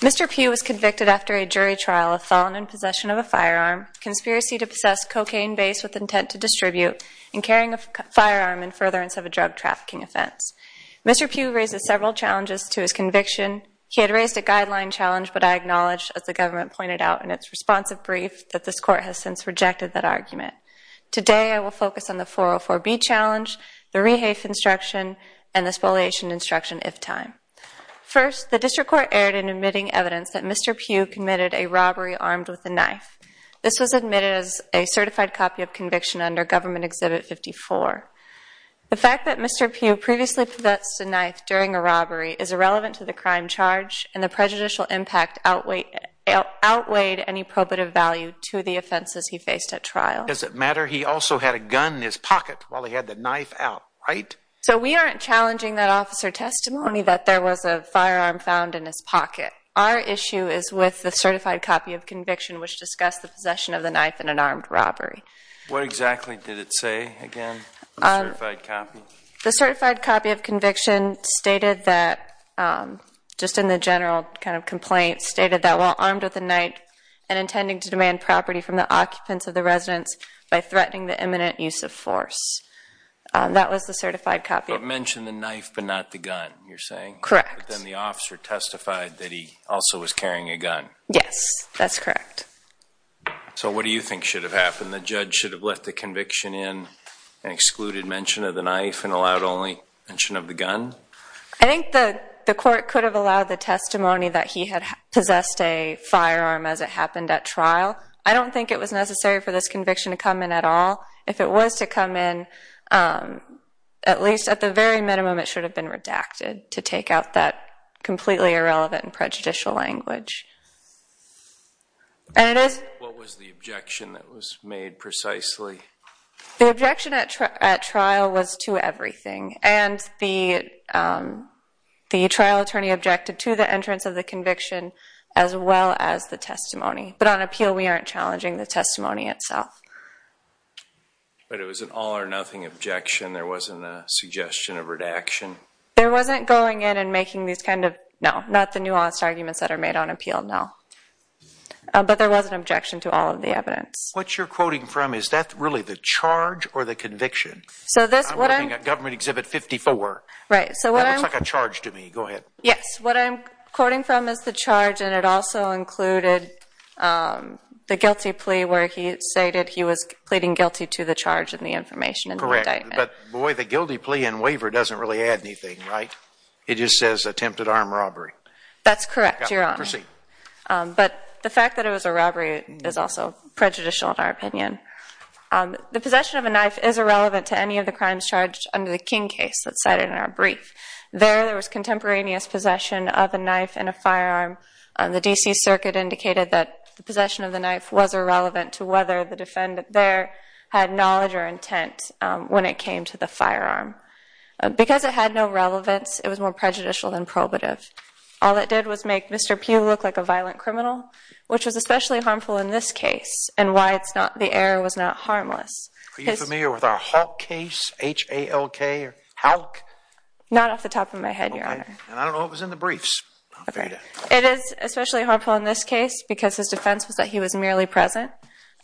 Mr. Pugh was convicted after a jury trial of felon in possession of a firearm, conspiracy to possess cocaine base with intent to distribute, and carrying a firearm in furtherance of a drug trafficking offense. Mr. Pugh raised several challenges to his conviction. He had raised a guideline challenge but I acknowledged, as the government pointed out in its responsive brief, that this court has since rejected that argument. Today I will focus on the 404b challenge, the rehafe instruction, and the spoliation instruction if time. First, the district court aired an evidence that Mr. Pugh committed a robbery armed with a knife. This was admitted as a certified copy of conviction under Government Exhibit 54. The fact that Mr. Pugh previously possessed a knife during a robbery is irrelevant to the crime charge and the prejudicial impact outweighed any probative value to the offenses he faced at trial. Does it matter he also had a gun in his pocket while he had the knife out, right? So we aren't challenging that officer testimony that there was a firearm found in his pocket. Our issue is with the certified copy of conviction which discussed the possession of the knife in an armed robbery. What exactly did it say again, the certified copy? The certified copy of conviction stated that, just in the general kind of complaint, stated that while armed with a knife and intending to demand property from the occupants of the residence by threatening the imminent use of force. That was the certified copy. But mentioned the knife but not the gun, you're saying? Correct. Then the officer testified that he also was carrying a gun. Yes, that's correct. So what do you think should have happened? The judge should have let the conviction in and excluded mention of the knife and allowed only mention of the gun? I think the court could have allowed the testimony that he had possessed a firearm as it happened at trial. I don't think it was necessary for this conviction to come in at all. If it was to come in, at least at the very minimum, it should have been redacted to take out that completely irrelevant and prejudicial language. What was the objection that was made precisely? The objection at trial was to everything. And the trial attorney objected to the entrance of the conviction as well as the testimony. But on appeal, we aren't challenging the testimony itself. But it was an all or nothing objection? There wasn't a suggestion of redaction? There wasn't going in and making these kind of... No, not the nuanced arguments that are made on appeal, no. But there was an objection to all of the evidence. What you're quoting from, is that really the charge or the conviction? I'm working at Government Exhibit 54. Right. That looks like a charge to me. Go ahead. Yes. What I'm quoting from is the charge and it also included the guilty plea where he stated he was pleading guilty to the charge and the information and the indictment. But boy, the guilty plea and waiver doesn't really add anything, right? It just says attempted armed robbery. That's correct, Your Honor. Proceed. But the fact that it was a robbery is also prejudicial in our opinion. The possession of a knife is irrelevant to any of the crimes charged under the King case that's cited in our brief. There, there was contemporaneous possession of a knife and a firearm. The D.C. Circuit indicated that the possession of the knife was irrelevant to whether the to the firearm. Because it had no relevance, it was more prejudicial than probative. All it did was make Mr. Pugh look like a violent criminal, which was especially harmful in this case and why it's not, the error was not harmless. Are you familiar with our Halk case? H-A-L-K or Halk? Not off the top of my head, Your Honor. And I don't know what was in the briefs. It is especially harmful in this case because his defense was that he was merely present.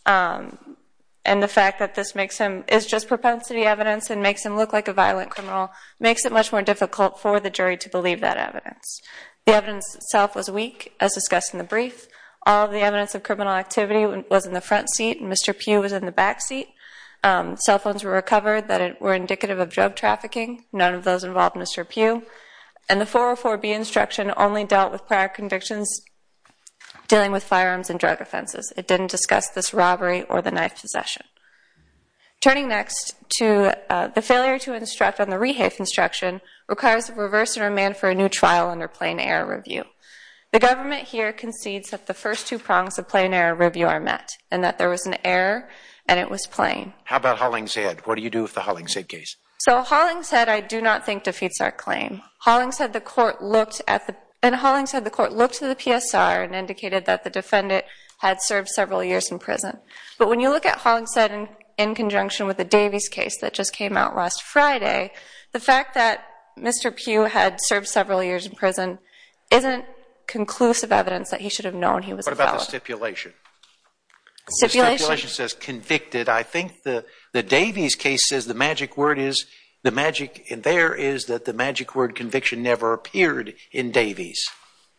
Um, and the fact that this makes him, is just propensity evidence and makes him look like a violent criminal makes it much more difficult for the jury to believe that evidence. The evidence itself was weak, as discussed in the brief. All the evidence of criminal activity was in the front seat and Mr. Pugh was in the back seat. Cell phones were recovered that were indicative of drug trafficking. None of those involved Mr. Pugh. And the 404B instruction only dealt with prior convictions dealing with firearms and drug offenses. It didn't discuss this robbery or the knife possession. Turning next to the failure to instruct on the rehafe instruction requires a reverse and remand for a new trial under plain error review. The government here concedes that the first two prongs of plain error review are met and that there was an error and it was plain. How about Hollingshead? What do you do with the Hollingshead case? So Hollingshead I do not think defeats our claim. Hollingshead the court looked at the, and Hollingshead the court looked to the PSR and indicated that the defendant had served several years in prison. But when you look at Hollingshead in conjunction with the Davies case that just came out last Friday, the fact that Mr. Pugh had served several years in prison isn't conclusive evidence that he should have known he was a felon. What about the stipulation? The stipulation says convicted. I think the Davies case says the magic word is, the magic in there is that the magic word conviction never appeared in Davies.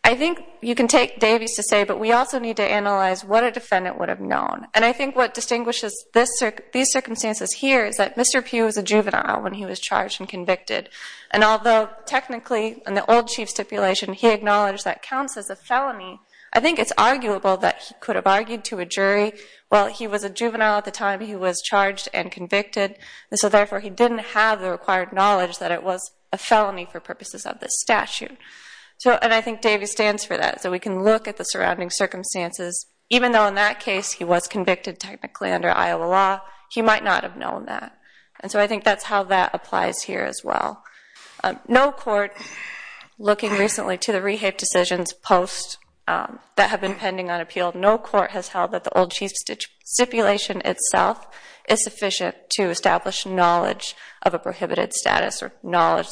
I think you can take Davies to say, but we also need to analyze what a defendant would have known. And I think what distinguishes these circumstances here is that Mr. Pugh was a juvenile when he was charged and convicted. And although technically in the old chief stipulation, he acknowledged that counts as a felony. I think it's arguable that he could have argued to a jury. Well, he was a juvenile at the time he was charged and convicted. So therefore, he didn't have the required knowledge that it was a felony for purposes of this statute. And I think Davies stands for that. So we can look at the surrounding circumstances. Even though in that case, he was convicted technically under Iowa law, he might not have known that. And so I think that's how that applies here as well. No court, looking recently to the rehape decisions post that have been pending on appeal, no court has held that the old chief stipulation itself or knowledge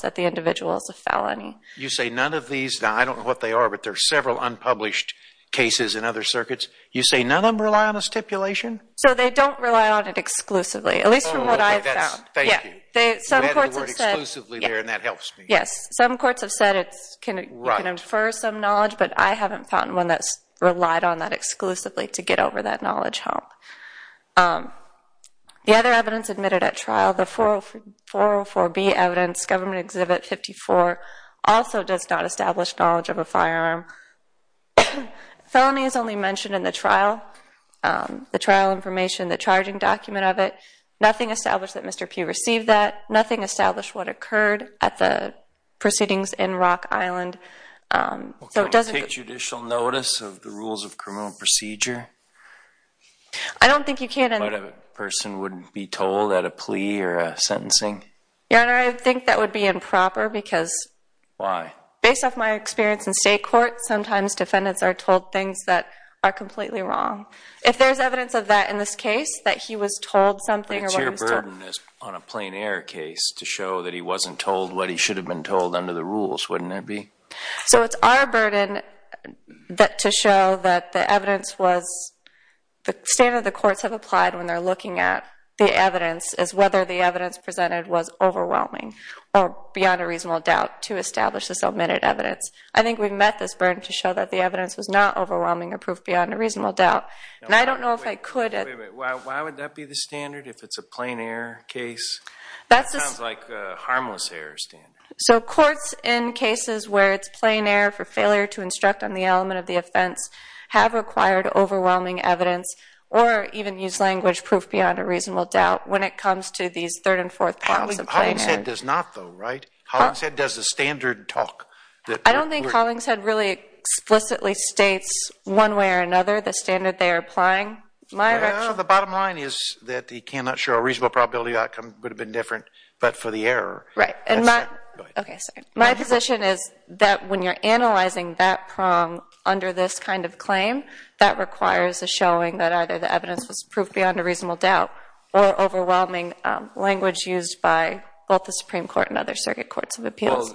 that the individual is a felony. You say none of these? Now, I don't know what they are, but there are several unpublished cases in other circuits. You say none of them rely on a stipulation? So they don't rely on it exclusively, at least from what I've found. Oh, OK. Thank you. You added the word exclusively there, and that helps me. Yes. Some courts have said you can infer some knowledge, but I haven't found one that's relied on that exclusively to get over that knowledge hump. The other evidence admitted at trial, the 404B evidence, Government Exhibit 54, also does not establish knowledge of a firearm. Felony is only mentioned in the trial, the trial information, the charging document of it. Nothing established that Mr. P received that. Nothing established what occurred at the proceedings in Rock Island. So it doesn't take judicial notice of the rules of criminal procedure? I don't think you can. But a person wouldn't be told at a plea or a sentencing? Your Honor, I think that would be improper, because Why? Based off my experience in state court, sometimes defendants are told things that are completely wrong. If there's evidence of that in this case, that he was told something or what he was told It's your burden on a plain air case to show that he wasn't told what he should have been told under the rules, wouldn't it be? So it's our burden to show that the evidence was, the standard the courts have applied when they're looking at the evidence is whether the evidence presented was overwhelming or beyond a reasonable doubt to establish this omitted evidence. I think we've met this burden to show that the evidence was not overwhelming or proof beyond a reasonable doubt. And I don't know if I could Wait, why would that be the standard if it's a plain air case? That sounds like a harmless air standard. So courts in cases where it's plain air for failure to instruct on the element of the offense have required overwhelming evidence or even use language proof beyond a reasonable doubt when it comes to these third and fourth prongs of plain air. Hollingshead does not though, right? Hollingshead does the standard talk. I don't think Hollingshead really explicitly states one way or another the standard they are applying. Well, the bottom line is that he cannot show a reasonable probability outcome would have been different, but for the error. Right, and my position is that when you're analyzing that prong under this kind of claim, that requires a showing that either the evidence was proof beyond a reasonable doubt or overwhelming language used by both the Supreme Court and other circuit courts of appeals.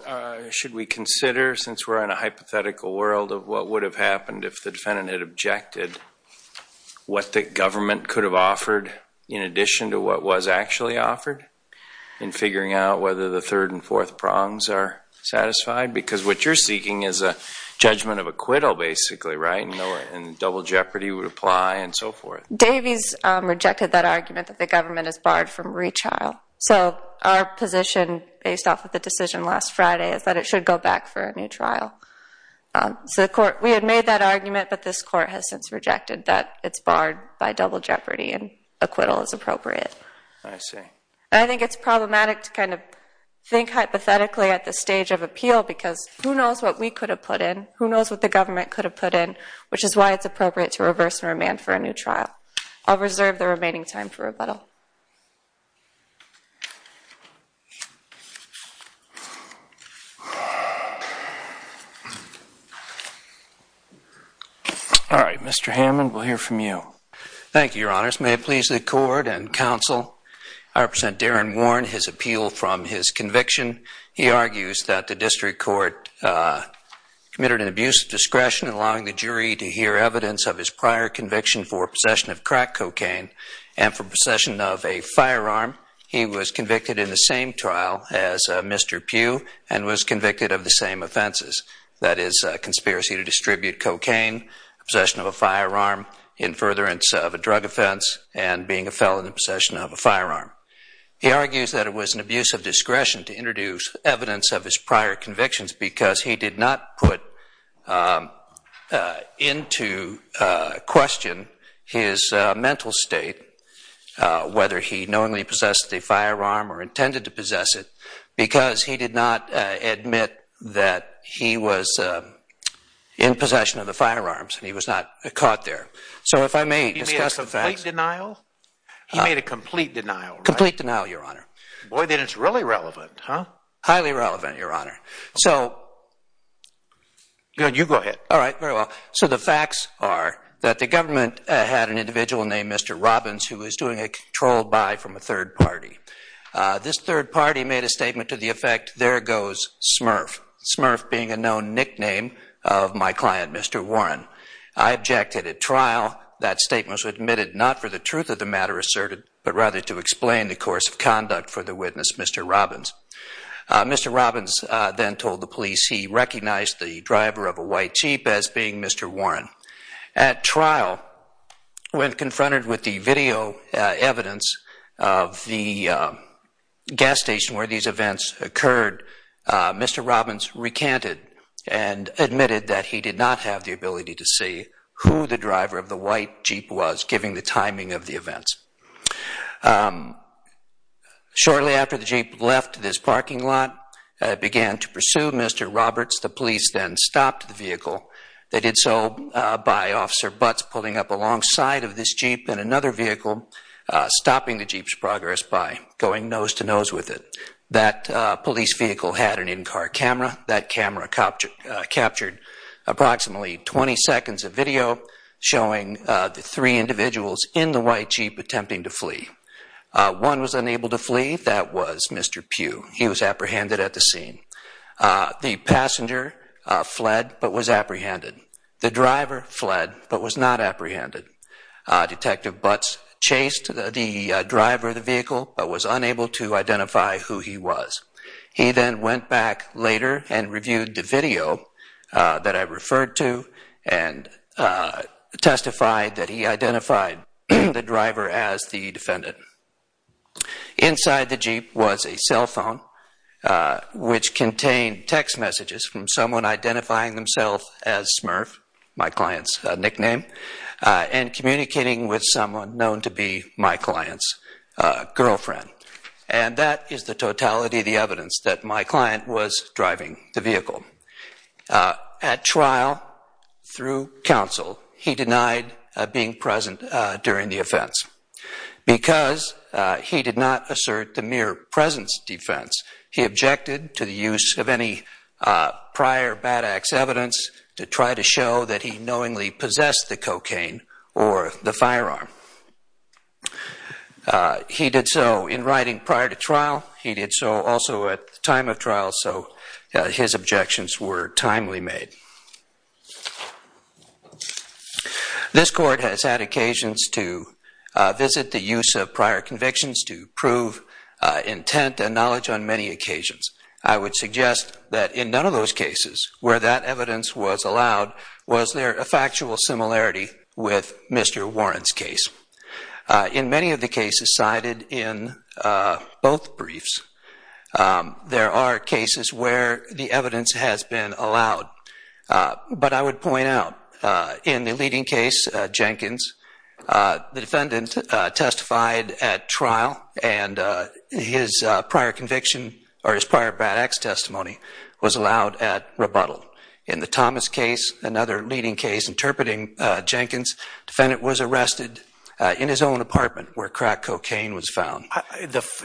Should we consider, since we're in a hypothetical world of what would have happened if the defendant had objected what the government could have offered in addition to what was actually offered in figuring out whether the third and fourth prongs are satisfied? Because what you're seeking is a judgment of acquittal basically, right? And double jeopardy would apply and so forth. Davies rejected that argument that the government is barred from retrial. So our position based off of the decision last Friday is that it should go back for a new trial. So we had made that argument, but this court has since rejected that it's barred by double jeopardy and acquittal is appropriate. I see. I think it's problematic to kind of think hypothetically at the stage of appeal because who knows what we could have put in? Who knows what the government could have put in? Which is why it's appropriate to reverse and remand for a new trial. I'll reserve the remaining time for rebuttal. All right, Mr. Hammond, we'll hear from you. Thank you, Your Honors. May it please the court and counsel, I represent Darren Warren, his appeal from his conviction. Allowing the jury to hear evidence of his prior conviction for possession of crack cocaine and for possession of a firearm. He was convicted in the same trial as Mr. Pugh and was convicted of the same offenses. That is a conspiracy to distribute cocaine, possession of a firearm, in furtherance of a drug offense, and being a felon in possession of a firearm. He argues that it was an abuse of discretion to introduce evidence of his prior convictions because he did not put into question his mental state, whether he knowingly possessed a firearm or intended to possess it, because he did not admit that he was in possession of the firearms and he was not caught there. So if I may discuss the facts. He made a complete denial? He made a complete denial, right? Complete denial, Your Honor. Boy, then it's really relevant, huh? Highly relevant, Your Honor. So, Your Honor, you go ahead. All right, very well. So the facts are that the government had an individual named Mr. Robbins who was doing a controlled buy from a third party. This third party made a statement to the effect, there goes Smurf. Smurf being a known nickname of my client, Mr. Warren. I objected at trial. That statement was admitted not for the truth of the matter asserted, but rather to explain the course of conduct for the witness, Mr. Robbins. Mr. Robbins then told the police he recognized the driver of a white Jeep as being Mr. Warren. At trial, when confronted with the video evidence of the gas station where these events occurred, Mr. Robbins recanted and admitted that he did not have the ability to see who the driver of the white Jeep was, given the timing of the events. Shortly after the Jeep left this parking lot, it began to pursue Mr. Roberts. The police then stopped the vehicle. They did so by Officer Butts pulling up alongside of this Jeep and another vehicle stopping the Jeep's progress by going nose to nose with it. That police vehicle had an in-car camera. That camera captured approximately 20 seconds of video showing the three individuals in the white Jeep attempting to flee. One was unable to flee. That was Mr. Pugh. He was apprehended at the scene. The passenger fled but was apprehended. The driver fled but was not apprehended. Detective Butts chased the driver of the vehicle but was unable to identify who he was. He then went back later and reviewed the video that I referred to and testified that he identified the driver as the defendant. Inside the Jeep was a cell phone which contained text messages from someone identifying themselves as Smurf, my client's nickname, and communicating with someone known to be my client's girlfriend. And that is the totality of the evidence that my client was driving the vehicle. At trial, through counsel, he denied being present during the offense because he did not assert the mere presence defense. He objected to the use of any prior Bad Axe evidence to try to show that he knowingly possessed the cocaine or the firearm. He did so in writing prior to trial. He did so also at the time of trial so his objections were timely made. This court has had occasions to visit the use of prior convictions to prove intent and knowledge on many occasions. I would suggest that in none of those cases where that evidence was allowed was there a factual similarity with Mr. Warren's case. In many of the cases cited in both briefs, there are cases where the evidence has been allowed. But I would point out in the leading case, Jenkins, the defendant testified at trial and his prior conviction or his prior Bad Axe testimony was allowed at rebuttal. In the Thomas case, another leading case, interpreting Jenkins, defendant was arrested in his own apartment where crack cocaine was found.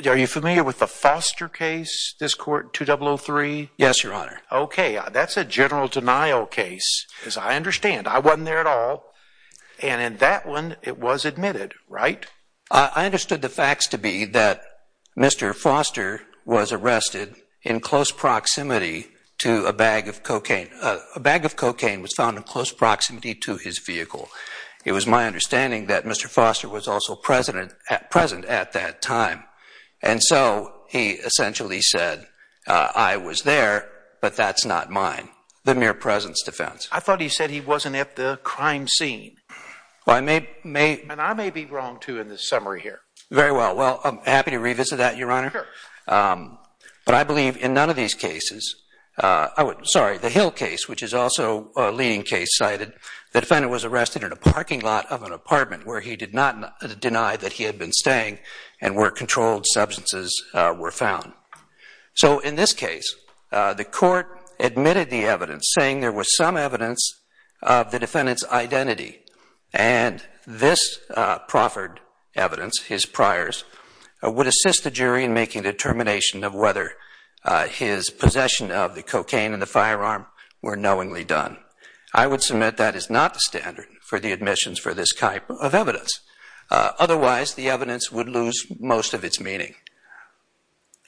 Are you familiar with the Foster case, this court, 2003? Yes, your honor. Okay, that's a general denial case, as I understand. I wasn't there at all. And in that one, it was admitted, right? I understood the facts to be that Mr. Foster was arrested in close proximity to a bag of cocaine. A bag of cocaine was found in close proximity to his vehicle. It was my understanding that Mr. Foster was also present at that time. And so he essentially said, I was there, but that's not mine, the mere presence defense. I thought he said he wasn't at the crime scene. Well, I may be wrong too in this summary here. Very well. Well, I'm happy to revisit that, your honor. But I believe in none of these cases, sorry, the Hill case, which is also a leading case, cited the defendant was arrested in a parking lot of an apartment where he did not deny that he had been staying and where controlled substances were found. So in this case, the court admitted the evidence saying there was some evidence of the defendant's identity. And this proffered evidence, his priors, would assist the jury in making the determination of whether his possession of the cocaine and the firearm were knowingly done. I would submit that is not the standard for the admissions for this type of evidence. Otherwise, the evidence would lose most of its meaning.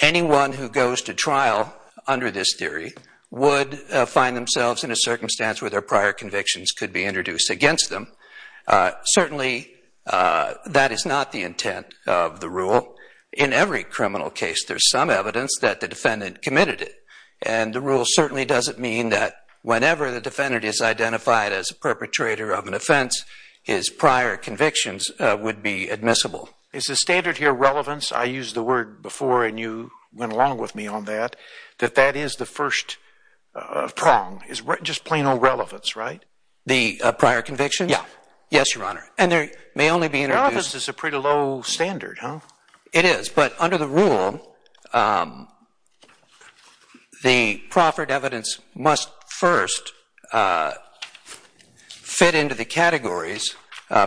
Anyone who goes to trial under this theory would find themselves in a circumstance where their prior convictions could be introduced against them. Certainly, that is not the intent of the rule. In every criminal case, there's some evidence that the defendant committed it. And the rule certainly doesn't mean that whenever the defendant is identified as a perpetrator of an offense, his prior convictions would be admissible. Is the standard here relevance? I used the word before, and you went along with me on that, that that is the first prong. It's just plain old relevance, right? The prior convictions? Yeah. Yes, Your Honor. And there may only be introduced... Your office is a pretty low standard, huh? It is. But under the rule, the proffered evidence must first fit into the categories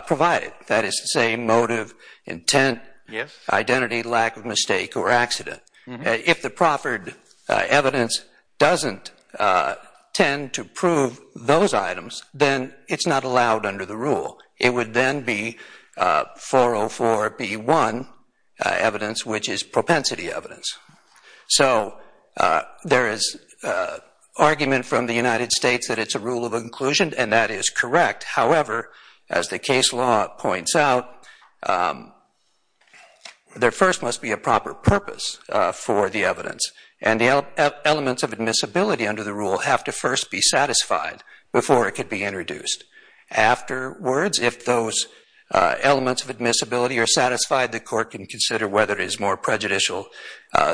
provided. That is to say motive, intent... Yes. Identity, lack of mistake, or accident. If the proffered evidence doesn't tend to prove those items, then it's not allowed under the rule. It would then be 404B1 evidence, which is propensity evidence. So there is argument from the United States that it's a rule of inclusion, and that is correct. However, as the case law points out, there first must be a proper purpose for the evidence. And the elements of admissibility under the rule have to first be satisfied before it could be introduced. Afterwards, if those elements of admissibility are satisfied, the court can consider whether it is more prejudicial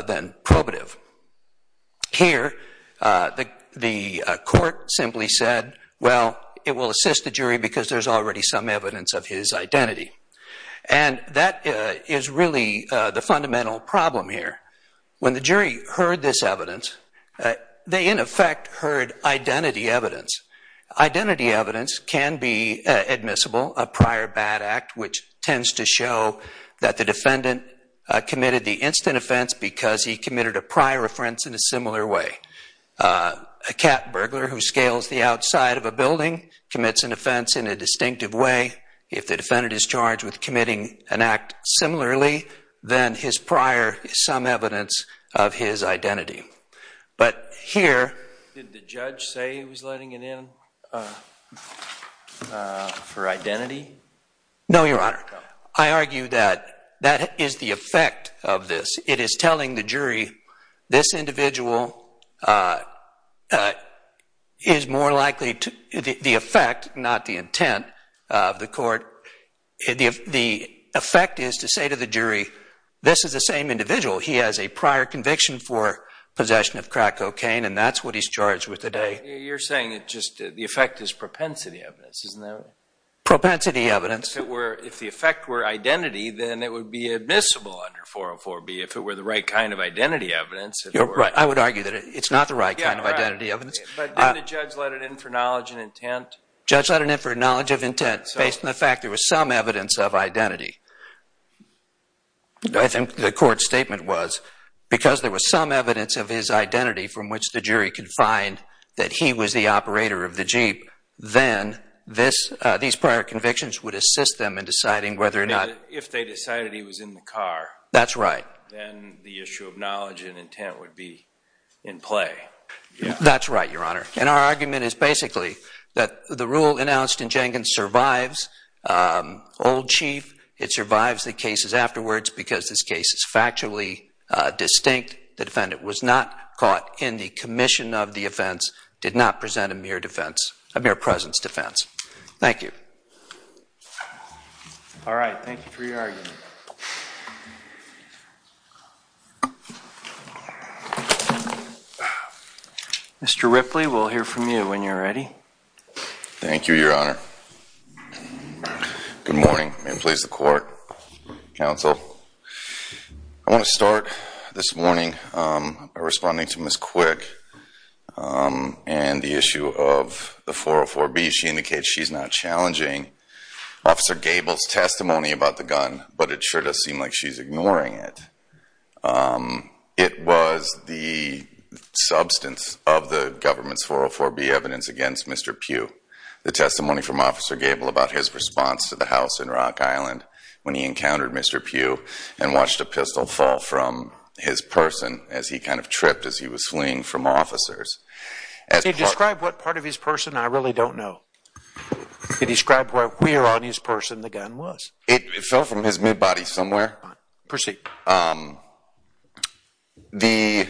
than probative. Here, the court simply said, well, it will assist the jury because there's already some evidence of his identity. And that is really the fundamental problem here. When the jury heard this evidence, they, in effect, heard identity evidence. Identity evidence can be admissible, a prior bad act, which tends to show that the defendant committed the instant offense because he committed a prior offense in a similar way. A cat burglar who scales the outside of a building commits an offense in a distinctive way. If the defendant is charged with committing an act similarly, then his prior is some evidence of his identity. But here... Did the judge say he was letting it in for identity? No, Your Honor. I argue that that is the effect of this. It is telling the jury this individual is more likely to... The effect, not the intent of the court. The effect is to say to the jury, this is the same individual. He has a prior conviction for possession of crack cocaine, and that's what he's charged with today. You're saying that just the effect is propensity evidence, isn't that right? Propensity evidence. If the effect were identity, then it would be admissible under 404B if it were the right kind of identity evidence. You're right. I would argue that it's not the right kind of identity evidence. But didn't the judge let it in for knowledge and intent? Judge let it in for knowledge of intent based on the fact there was some evidence of identity. I think the court's statement was, because there was some evidence of his identity from which the jury could find that he was the operator of the Jeep, then these prior convictions would assist them in deciding whether or not... If they decided he was in the car... That's right. ...then the issue of knowledge and intent would be in play. That's right, Your Honor. And our argument is basically that the rule announced in Jenkins survives old chief. It survives the cases afterwards because this case is factually distinct. The defendant was not caught in the commission of the offense, did not present a mere defense, a mere presence defense. Thank you. All right. Thank you for your argument. Mr. Ripley, we'll hear from you when you're ready. Thank you, Your Honor. Good morning. May it please the court, counsel. I want to start this morning by responding to Ms. Quick and the issue of the 404B. She indicates she's not challenging Officer Gable's testimony about the gun, but it sure does seem like she's ignoring it. Um, it was the substance of the government's 404B evidence against Mr. Pugh. The testimony from Officer Gable about his response to the house in Rock Island when he encountered Mr. Pugh and watched a pistol fall from his person as he kind of tripped as he was fleeing from officers. Can you describe what part of his person? I really don't know. Can you describe where on his person the gun was? It fell from his mid-body somewhere. Proceed. Um, the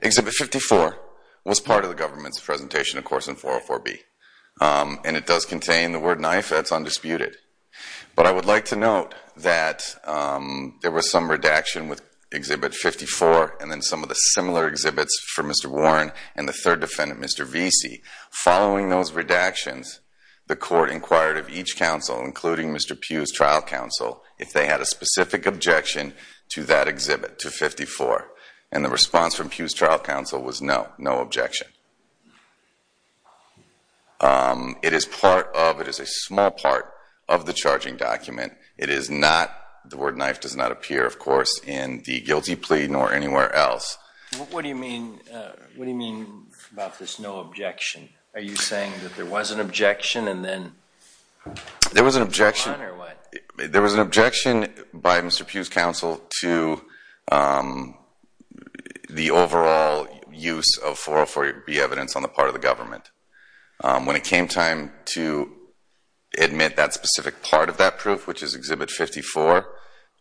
Exhibit 54 was part of the government's presentation, of course, in 404B. And it does contain the word knife. That's undisputed. But I would like to note that there was some redaction with Exhibit 54 and then some of the similar exhibits for Mr. Warren and the third defendant, Mr. Vesey. Following those redactions, the court inquired of each counsel, including Mr. Pugh's trial counsel, if they had a specific objection to that exhibit, to 54. And the response from Pugh's trial counsel was no, no objection. Um, it is part of, it is a small part of the charging document. It is not, the word knife does not appear, of course, in the guilty plea nor anywhere else. What do you mean, what do you mean about this no objection? Are you saying that there was an objection and then? There was an objection, there was an objection by Mr. Pugh's counsel to the overall use of 404B evidence on the part of the government. When it came time to admit that specific part of that proof, which is Exhibit 54,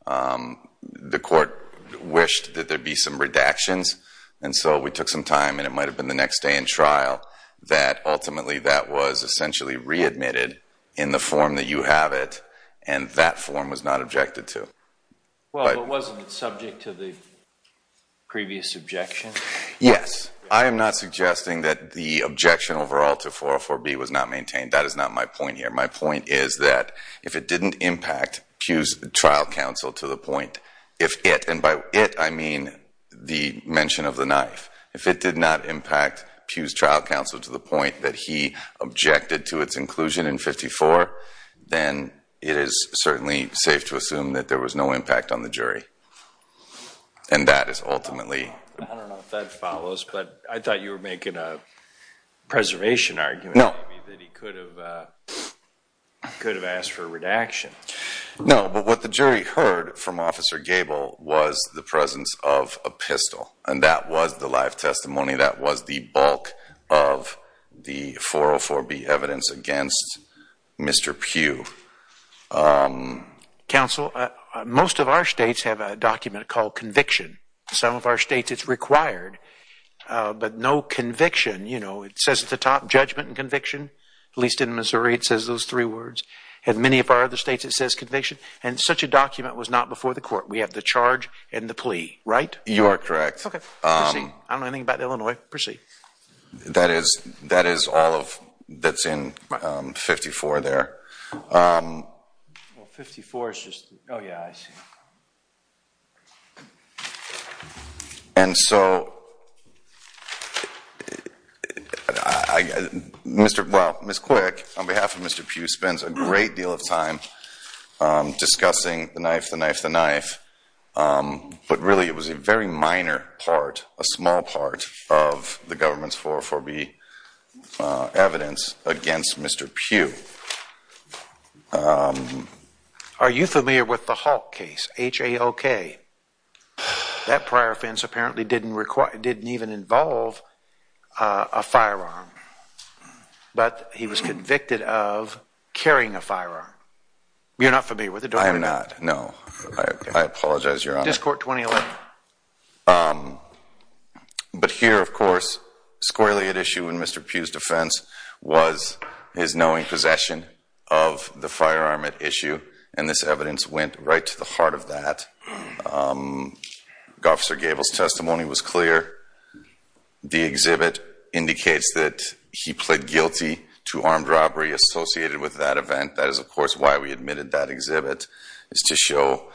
the court wished that there be some redactions. And so we took some time, and it might have been the next day in trial, that ultimately that was essentially readmitted in the form that you have it, and that form was not objected to. Well, but wasn't it subject to the previous objection? Yes. I am not suggesting that the objection overall to 404B was not maintained. That is not my point here. My point is that if it didn't impact Pugh's trial counsel to the point, if it, and by it I mean the mention of the knife. If it did not impact Pugh's trial counsel to the point that he objected to its inclusion in 54, then it is certainly safe to assume that there was no impact on the jury. And that is ultimately. I don't know if that follows, but I thought you were making a preservation argument. No. That he could have asked for redaction. No, but what the jury heard from Officer Gabel was the presence of a pistol, and that was the live testimony. That was the bulk of the 404B evidence against Mr. Pugh. Counsel, most of our states have a document called conviction. Some of our states it's required, but no conviction. You know, it says at the top, judgment and conviction. At least in Missouri it says those three words. In many of our other states it says conviction, and such a document was not before the court. We have the charge and the plea, right? You are correct. Okay, I don't know anything about Illinois. Proceed. That is all that's in 54 there. Well, 54 is just. Oh, yeah, I see. And so, well, Ms. Quick, on behalf of Mr. Pugh, spends a great deal of time discussing the knife, the knife, the knife. But really, it was a very minor part, a small part of the government's 404B evidence against Mr. Pugh. Are you familiar with the Halk case, H-A-L-K? That prior offense apparently didn't require, didn't even involve a firearm, but he was convicted of carrying a firearm. You're not familiar with it, are you? I'm not, no. I apologize, Your Honor. Discourt 2011. But here, of course, squarely at issue in Mr. Pugh's defense was his knowing possession of the firearm at issue, and this evidence went right to the heart of that. Officer Gabel's testimony was clear. The exhibit indicates that he pled guilty to armed robbery associated with that event. That is, of course, why we admitted that exhibit, is to show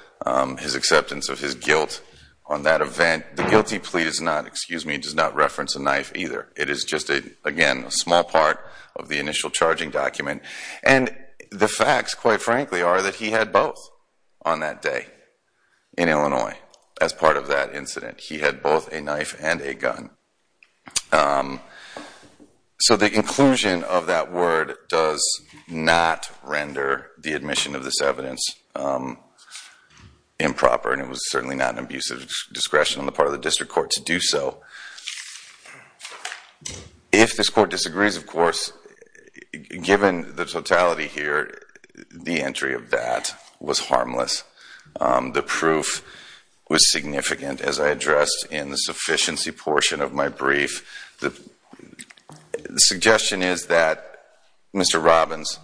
his acceptance of his guilt on that event. The guilty plea does not, excuse me, does not reference a knife either. It is just, again, a small part of the initial charging document. And the facts, quite frankly, are that he had both on that day in Illinois as part of that incident. He had both a knife and a gun. So the inclusion of that word does not render the admission of this evidence improper, and it was certainly not an abusive discretion on the part of the district court to do so. If this court disagrees, of course, given the totality here, the entry of that was harmless. The proof was significant, as I addressed in the sufficiency portion of my brief. The suggestion is that Mr. Robbins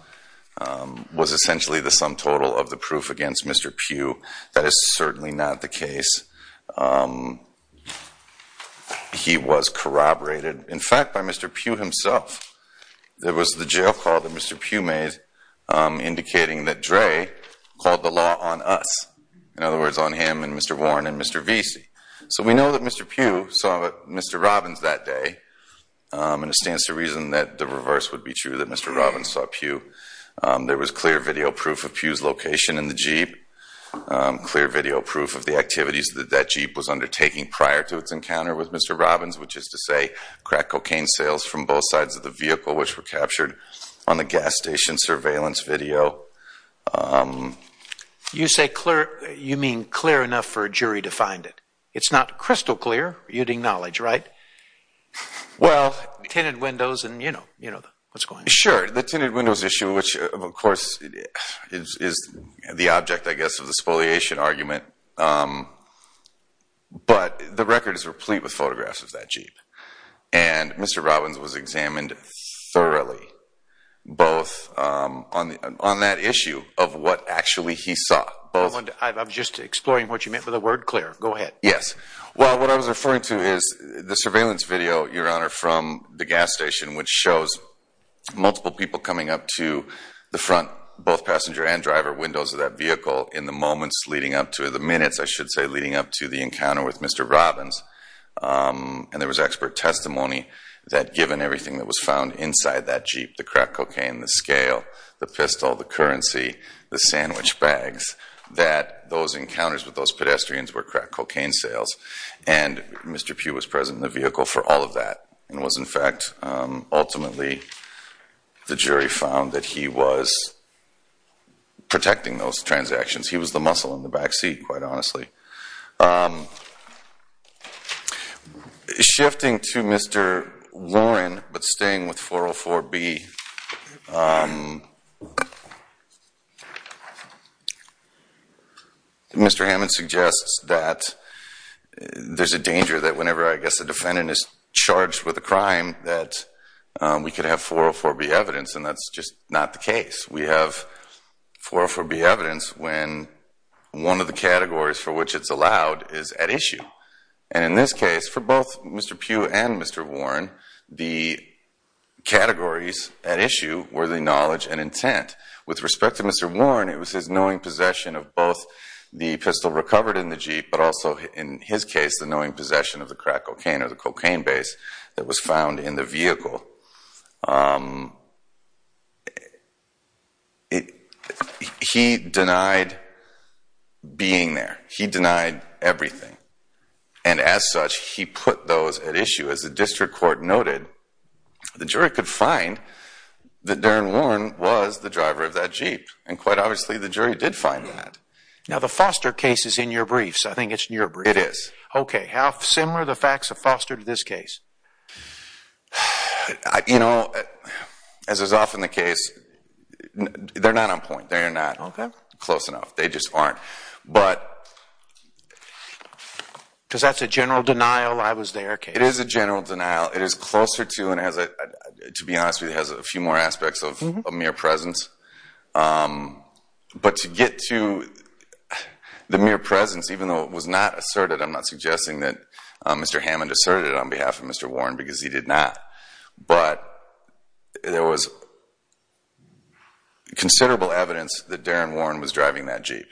was essentially the sum total of the proof against Mr. Pugh. That is certainly not the case. He was corroborated, in fact, by Mr. Pugh himself. There was the jail call that Mr. Pugh made indicating that Dre called the law on us. In other words, on him and Mr. Warren and Mr. Vesey. So we know that Mr. Pugh saw Mr. Robbins that day, and it stands to reason that the reverse would be true, that Mr. Robbins saw Pugh. There was clear video proof of Pugh's location in the Jeep, clear video proof of the activities that that Jeep was undertaking prior to its encounter with Mr. Robbins, which is to say, crack cocaine sales from both sides of the vehicle, which were captured on the gas station surveillance video. You say clear, you mean clear enough for a jury to find it. It's not crystal clear, you'd acknowledge, right? Well, tinted windows and, you know, what's going on. Sure, the tinted windows issue, which of course is the object, I guess, of the spoliation argument. But the record is replete with photographs of that Jeep. And Mr. Robbins was examined thoroughly, both on that issue of what actually he saw. I'm just exploring what you meant by the word clear. Go ahead. Yes. Well, what I was referring to is the surveillance video, Your Honor, from the gas station, which shows multiple people coming up to the front, both passenger and driver windows of that vehicle in the moments leading up to the minutes, I should say, leading up to the encounter with Mr. Robbins. And there was expert testimony that given everything that was found inside that Jeep, the crack cocaine, the scale, the pistol, the currency, the sandwich bags, that those encounters with those pedestrians were crack cocaine sales. And Mr. Pugh was present in the vehicle for all of that, and was in fact, ultimately, the jury found that he was protecting those transactions. He was the muscle in the backseat, quite honestly. Shifting to Mr. Warren, but staying with 404B, Mr. Hammond suggests that there's a danger that whenever, I guess, the defendant is charged with a crime, that we could have 404B evidence. And that's just not the case. We have 404B evidence when one of the categories for which it's allowed is at issue. And in this case, for both Mr. Pugh and Mr. Warren, the categories at issue were the knowledge and intent. With respect to Mr. Warren, it was his knowing possession of both the pistol recovered in the Jeep, but also in his case, the knowing possession of the crack cocaine or the cocaine base that was found in the vehicle. He denied being there. He denied everything. And as such, he put those at issue. As the district court noted, the jury could find that Darren Warren was the driver of that Jeep. And quite obviously, the jury did find that. Now, the Foster case is in your briefs. I think it's in your briefs. It is. Okay. How similar are the facts of Foster to this case? You know, as is often the case, they're not on point. They're not close enough. They just aren't. But... Because that's a general denial, I was there case. It is a general denial. It is closer to, and to be honest with you, it has a few more aspects of mere presence. But to get to the mere presence, even though it was not asserted, I'm not suggesting that Mr. Hammond asserted it on behalf of Mr. Warren because he did not. But there was considerable evidence that Darren Warren was driving that Jeep.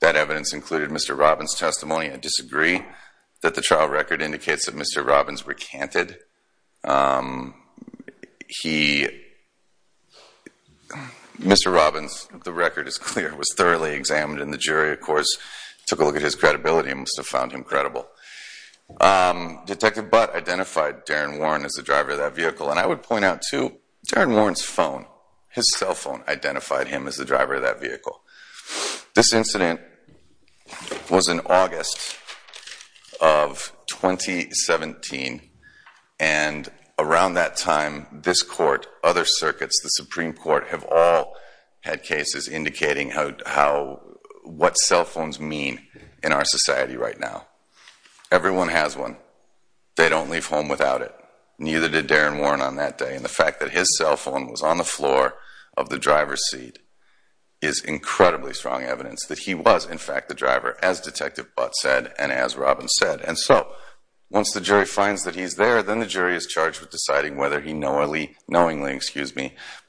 That evidence included Mr. Robbins' testimony. I disagree that the trial record indicates that Mr. Robbins recanted. He... Mr. Robbins, the record is clear, was thoroughly examined. And the jury, of course, took a look at his credibility and must have found him credible. Detective Butt identified Darren Warren as the driver of that vehicle. And I would point out too, Darren Warren's phone, his cell phone, identified him as the driver of that vehicle. This incident was in August of 2017. And around that time, this court, other circuits, the Supreme Court have all had cases indicating how... what cell phones mean in our society right now. Everyone has one. They don't leave home without it. Neither did Darren Warren on that day. It's incredibly strong evidence that he was, in fact, the driver, as Detective Butt said and as Robbins said. And so once the jury finds that he's there, then the jury is charged with deciding whether he knowingly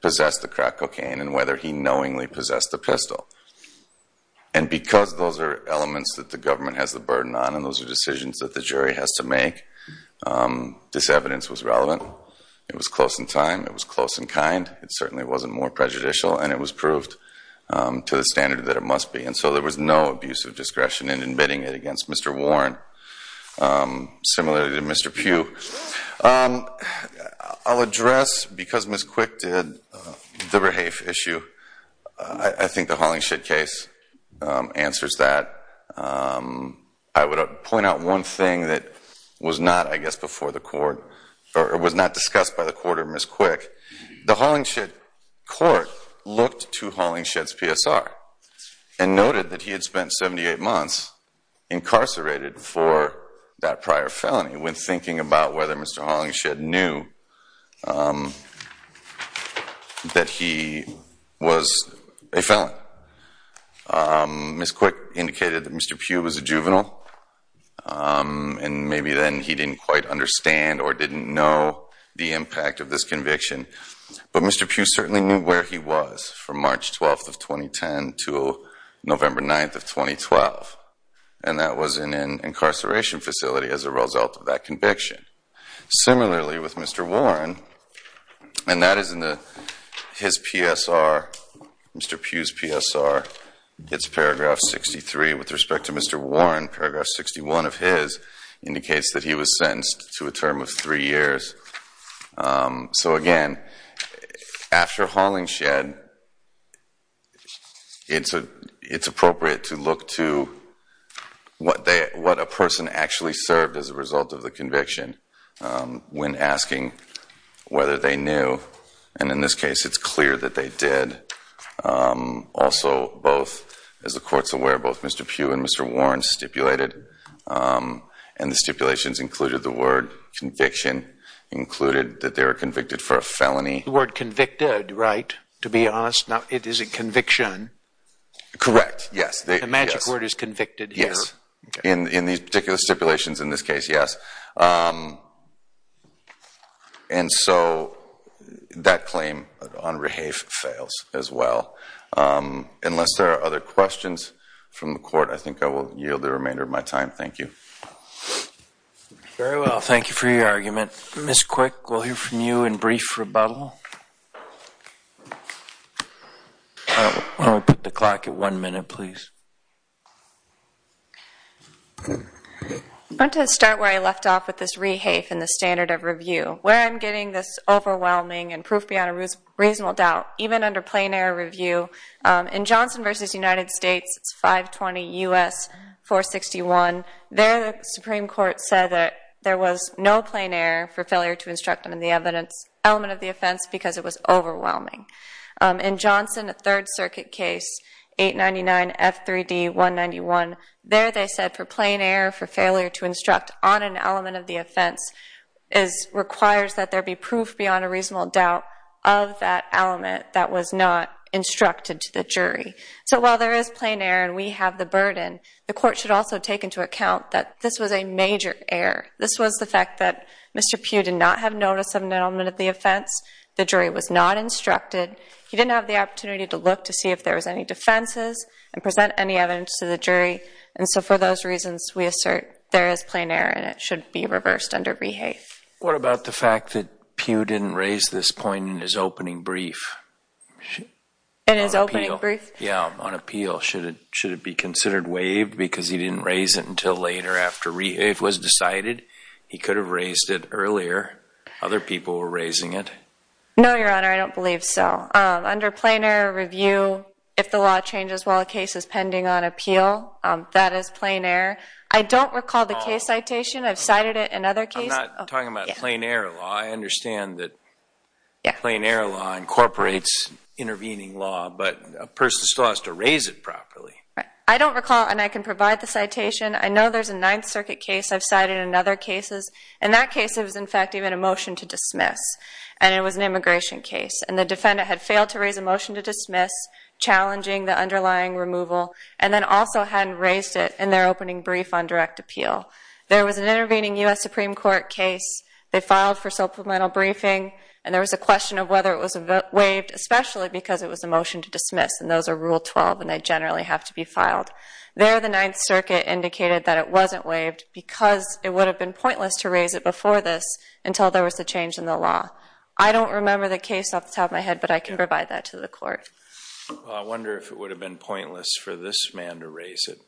possessed the crack cocaine and whether he knowingly possessed the pistol. And because those are elements that the government has the burden on, and those are decisions that the jury has to make, this evidence was relevant. It was close in time. It was close in kind. It certainly wasn't more prejudicial. And it was proved to the standard that it must be. And so there was no abuse of discretion in admitting it against Mr. Warren, similarly to Mr. Pugh. I'll address, because Ms. Quick did, the Rahafe issue. I think the Hollingshed case answers that. I would point out one thing that was not, I guess, before the court, or was not discussed by the court or Ms. Quick. The Hollingshed court looked to Hollingshed's PSR and noted that he had spent 78 months incarcerated for that prior felony when thinking about whether Mr. Hollingshed knew that he was a felon. Ms. Quick indicated that Mr. Pugh was a juvenile, and maybe then he didn't quite understand or didn't know the impact of this conviction. But Mr. Pugh certainly knew where he was from March 12th of 2010 to November 9th of 2012, and that was in an incarceration facility as a result of that conviction. Similarly with Mr. Warren, and that is in his PSR, Mr. Pugh's PSR, it's paragraph 63. With respect to Mr. Warren, paragraph 61 of his indicates that he was sentenced to a term of three years. So again, after Hollingshed, it's appropriate to look to what a person actually served as a result of the conviction when asking whether they knew. And in this case, it's clear that they did. Also, both, as the court's aware, both Mr. Pugh and Mr. Warren stipulated, and the stipulations included the word conviction, included that they were convicted for a felony. The word convicted, right, to be honest? Now, is it conviction? Correct, yes. The magic word is convicted here. Yes. In these particular stipulations in this case, yes. And so, that claim on Rehafe fails as well. Unless there are other questions from the court, I think I will yield the remainder of my time. Thank you. Very well. Thank you for your argument. Ms. Quick, we'll hear from you in brief rebuttal. Why don't we put the clock at one minute, please? I want to start where I left off. With this Rehafe and the standard of review, where I'm getting this overwhelming and proof beyond a reasonable doubt, even under plain error review. In Johnson v. United States, it's 520 U.S. 461. There, the Supreme Court said that there was no plain error for failure to instruct on the evidence element of the offense because it was overwhelming. In Johnson, a Third Circuit case, 899 F3D 191, there they said for plain error for failure to instruct on an element of the offense is requires that there be proof beyond a reasonable doubt of that element that was not instructed to the jury. So, while there is plain error and we have the burden, the court should also take into account that this was a major error. This was the fact that Mr. Pugh did not have notice of an element of the offense. The jury was not instructed. He didn't have the opportunity to look to see if there was any defenses and present any evidence to the jury. And so, for those reasons, we assert there is plain error and it should be reversed under rehafe. What about the fact that Pugh didn't raise this point in his opening brief? In his opening brief? Yeah, on appeal. Should it be considered waived because he didn't raise it until later after rehafe was decided? He could have raised it earlier. Other people were raising it. No, Your Honor, I don't believe so. Under plain error review, if the law changes while a case is pending on appeal, that is plain error. I don't recall the case citation. I've cited it in other cases. I'm not talking about plain error law. I understand that plain error law incorporates intervening law, but a person still has to raise it properly. I don't recall and I can provide the citation. I know there's a Ninth Circuit case I've cited in other cases. In that case, it was, in fact, even a motion to dismiss. And it was an immigration case. And the defendant had failed to raise a motion to dismiss, challenging the underlying removal, and then also hadn't raised it in their opening brief on direct appeal. There was an intervening U.S. Supreme Court case. They filed for supplemental briefing. And there was a question of whether it was waived, especially because it was a motion to dismiss. And those are Rule 12, and they generally have to be filed. There, the Ninth Circuit indicated that it wasn't waived because it would have been pointless to raise it before this until there was a change in the law. I don't remember the case off the top of my head, but I can provide that to the court. Well, I wonder if it would have been pointless for this man to raise it.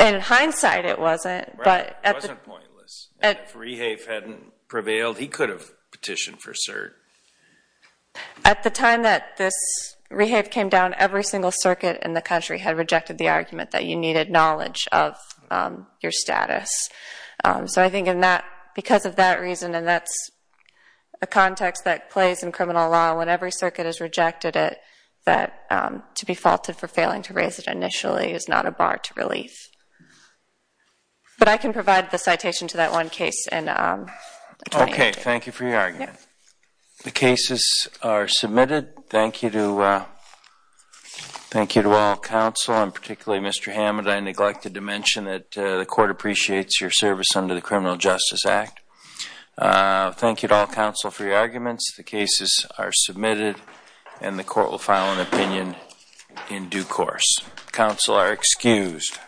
In hindsight, it wasn't. Right, it wasn't pointless. And if Rehave hadn't prevailed, he could have petitioned for cert. At the time that this Rehave came down, every single circuit in the country had rejected the argument that you needed knowledge of your status. So I think because of that reason, and that's a context that plays in criminal law, when every circuit has rejected it, that to be faulted for failing to raise it initially is not a bar to relief. But I can provide the citation to that one case. Okay, thank you for your argument. The cases are submitted. Thank you to all counsel, and particularly Mr. Hammond. I neglected to mention that the court appreciates your service under the Criminal Justice Act. Thank you to all counsel for your arguments. The cases are submitted, and the court will file an opinion in due course. Counsel are excused.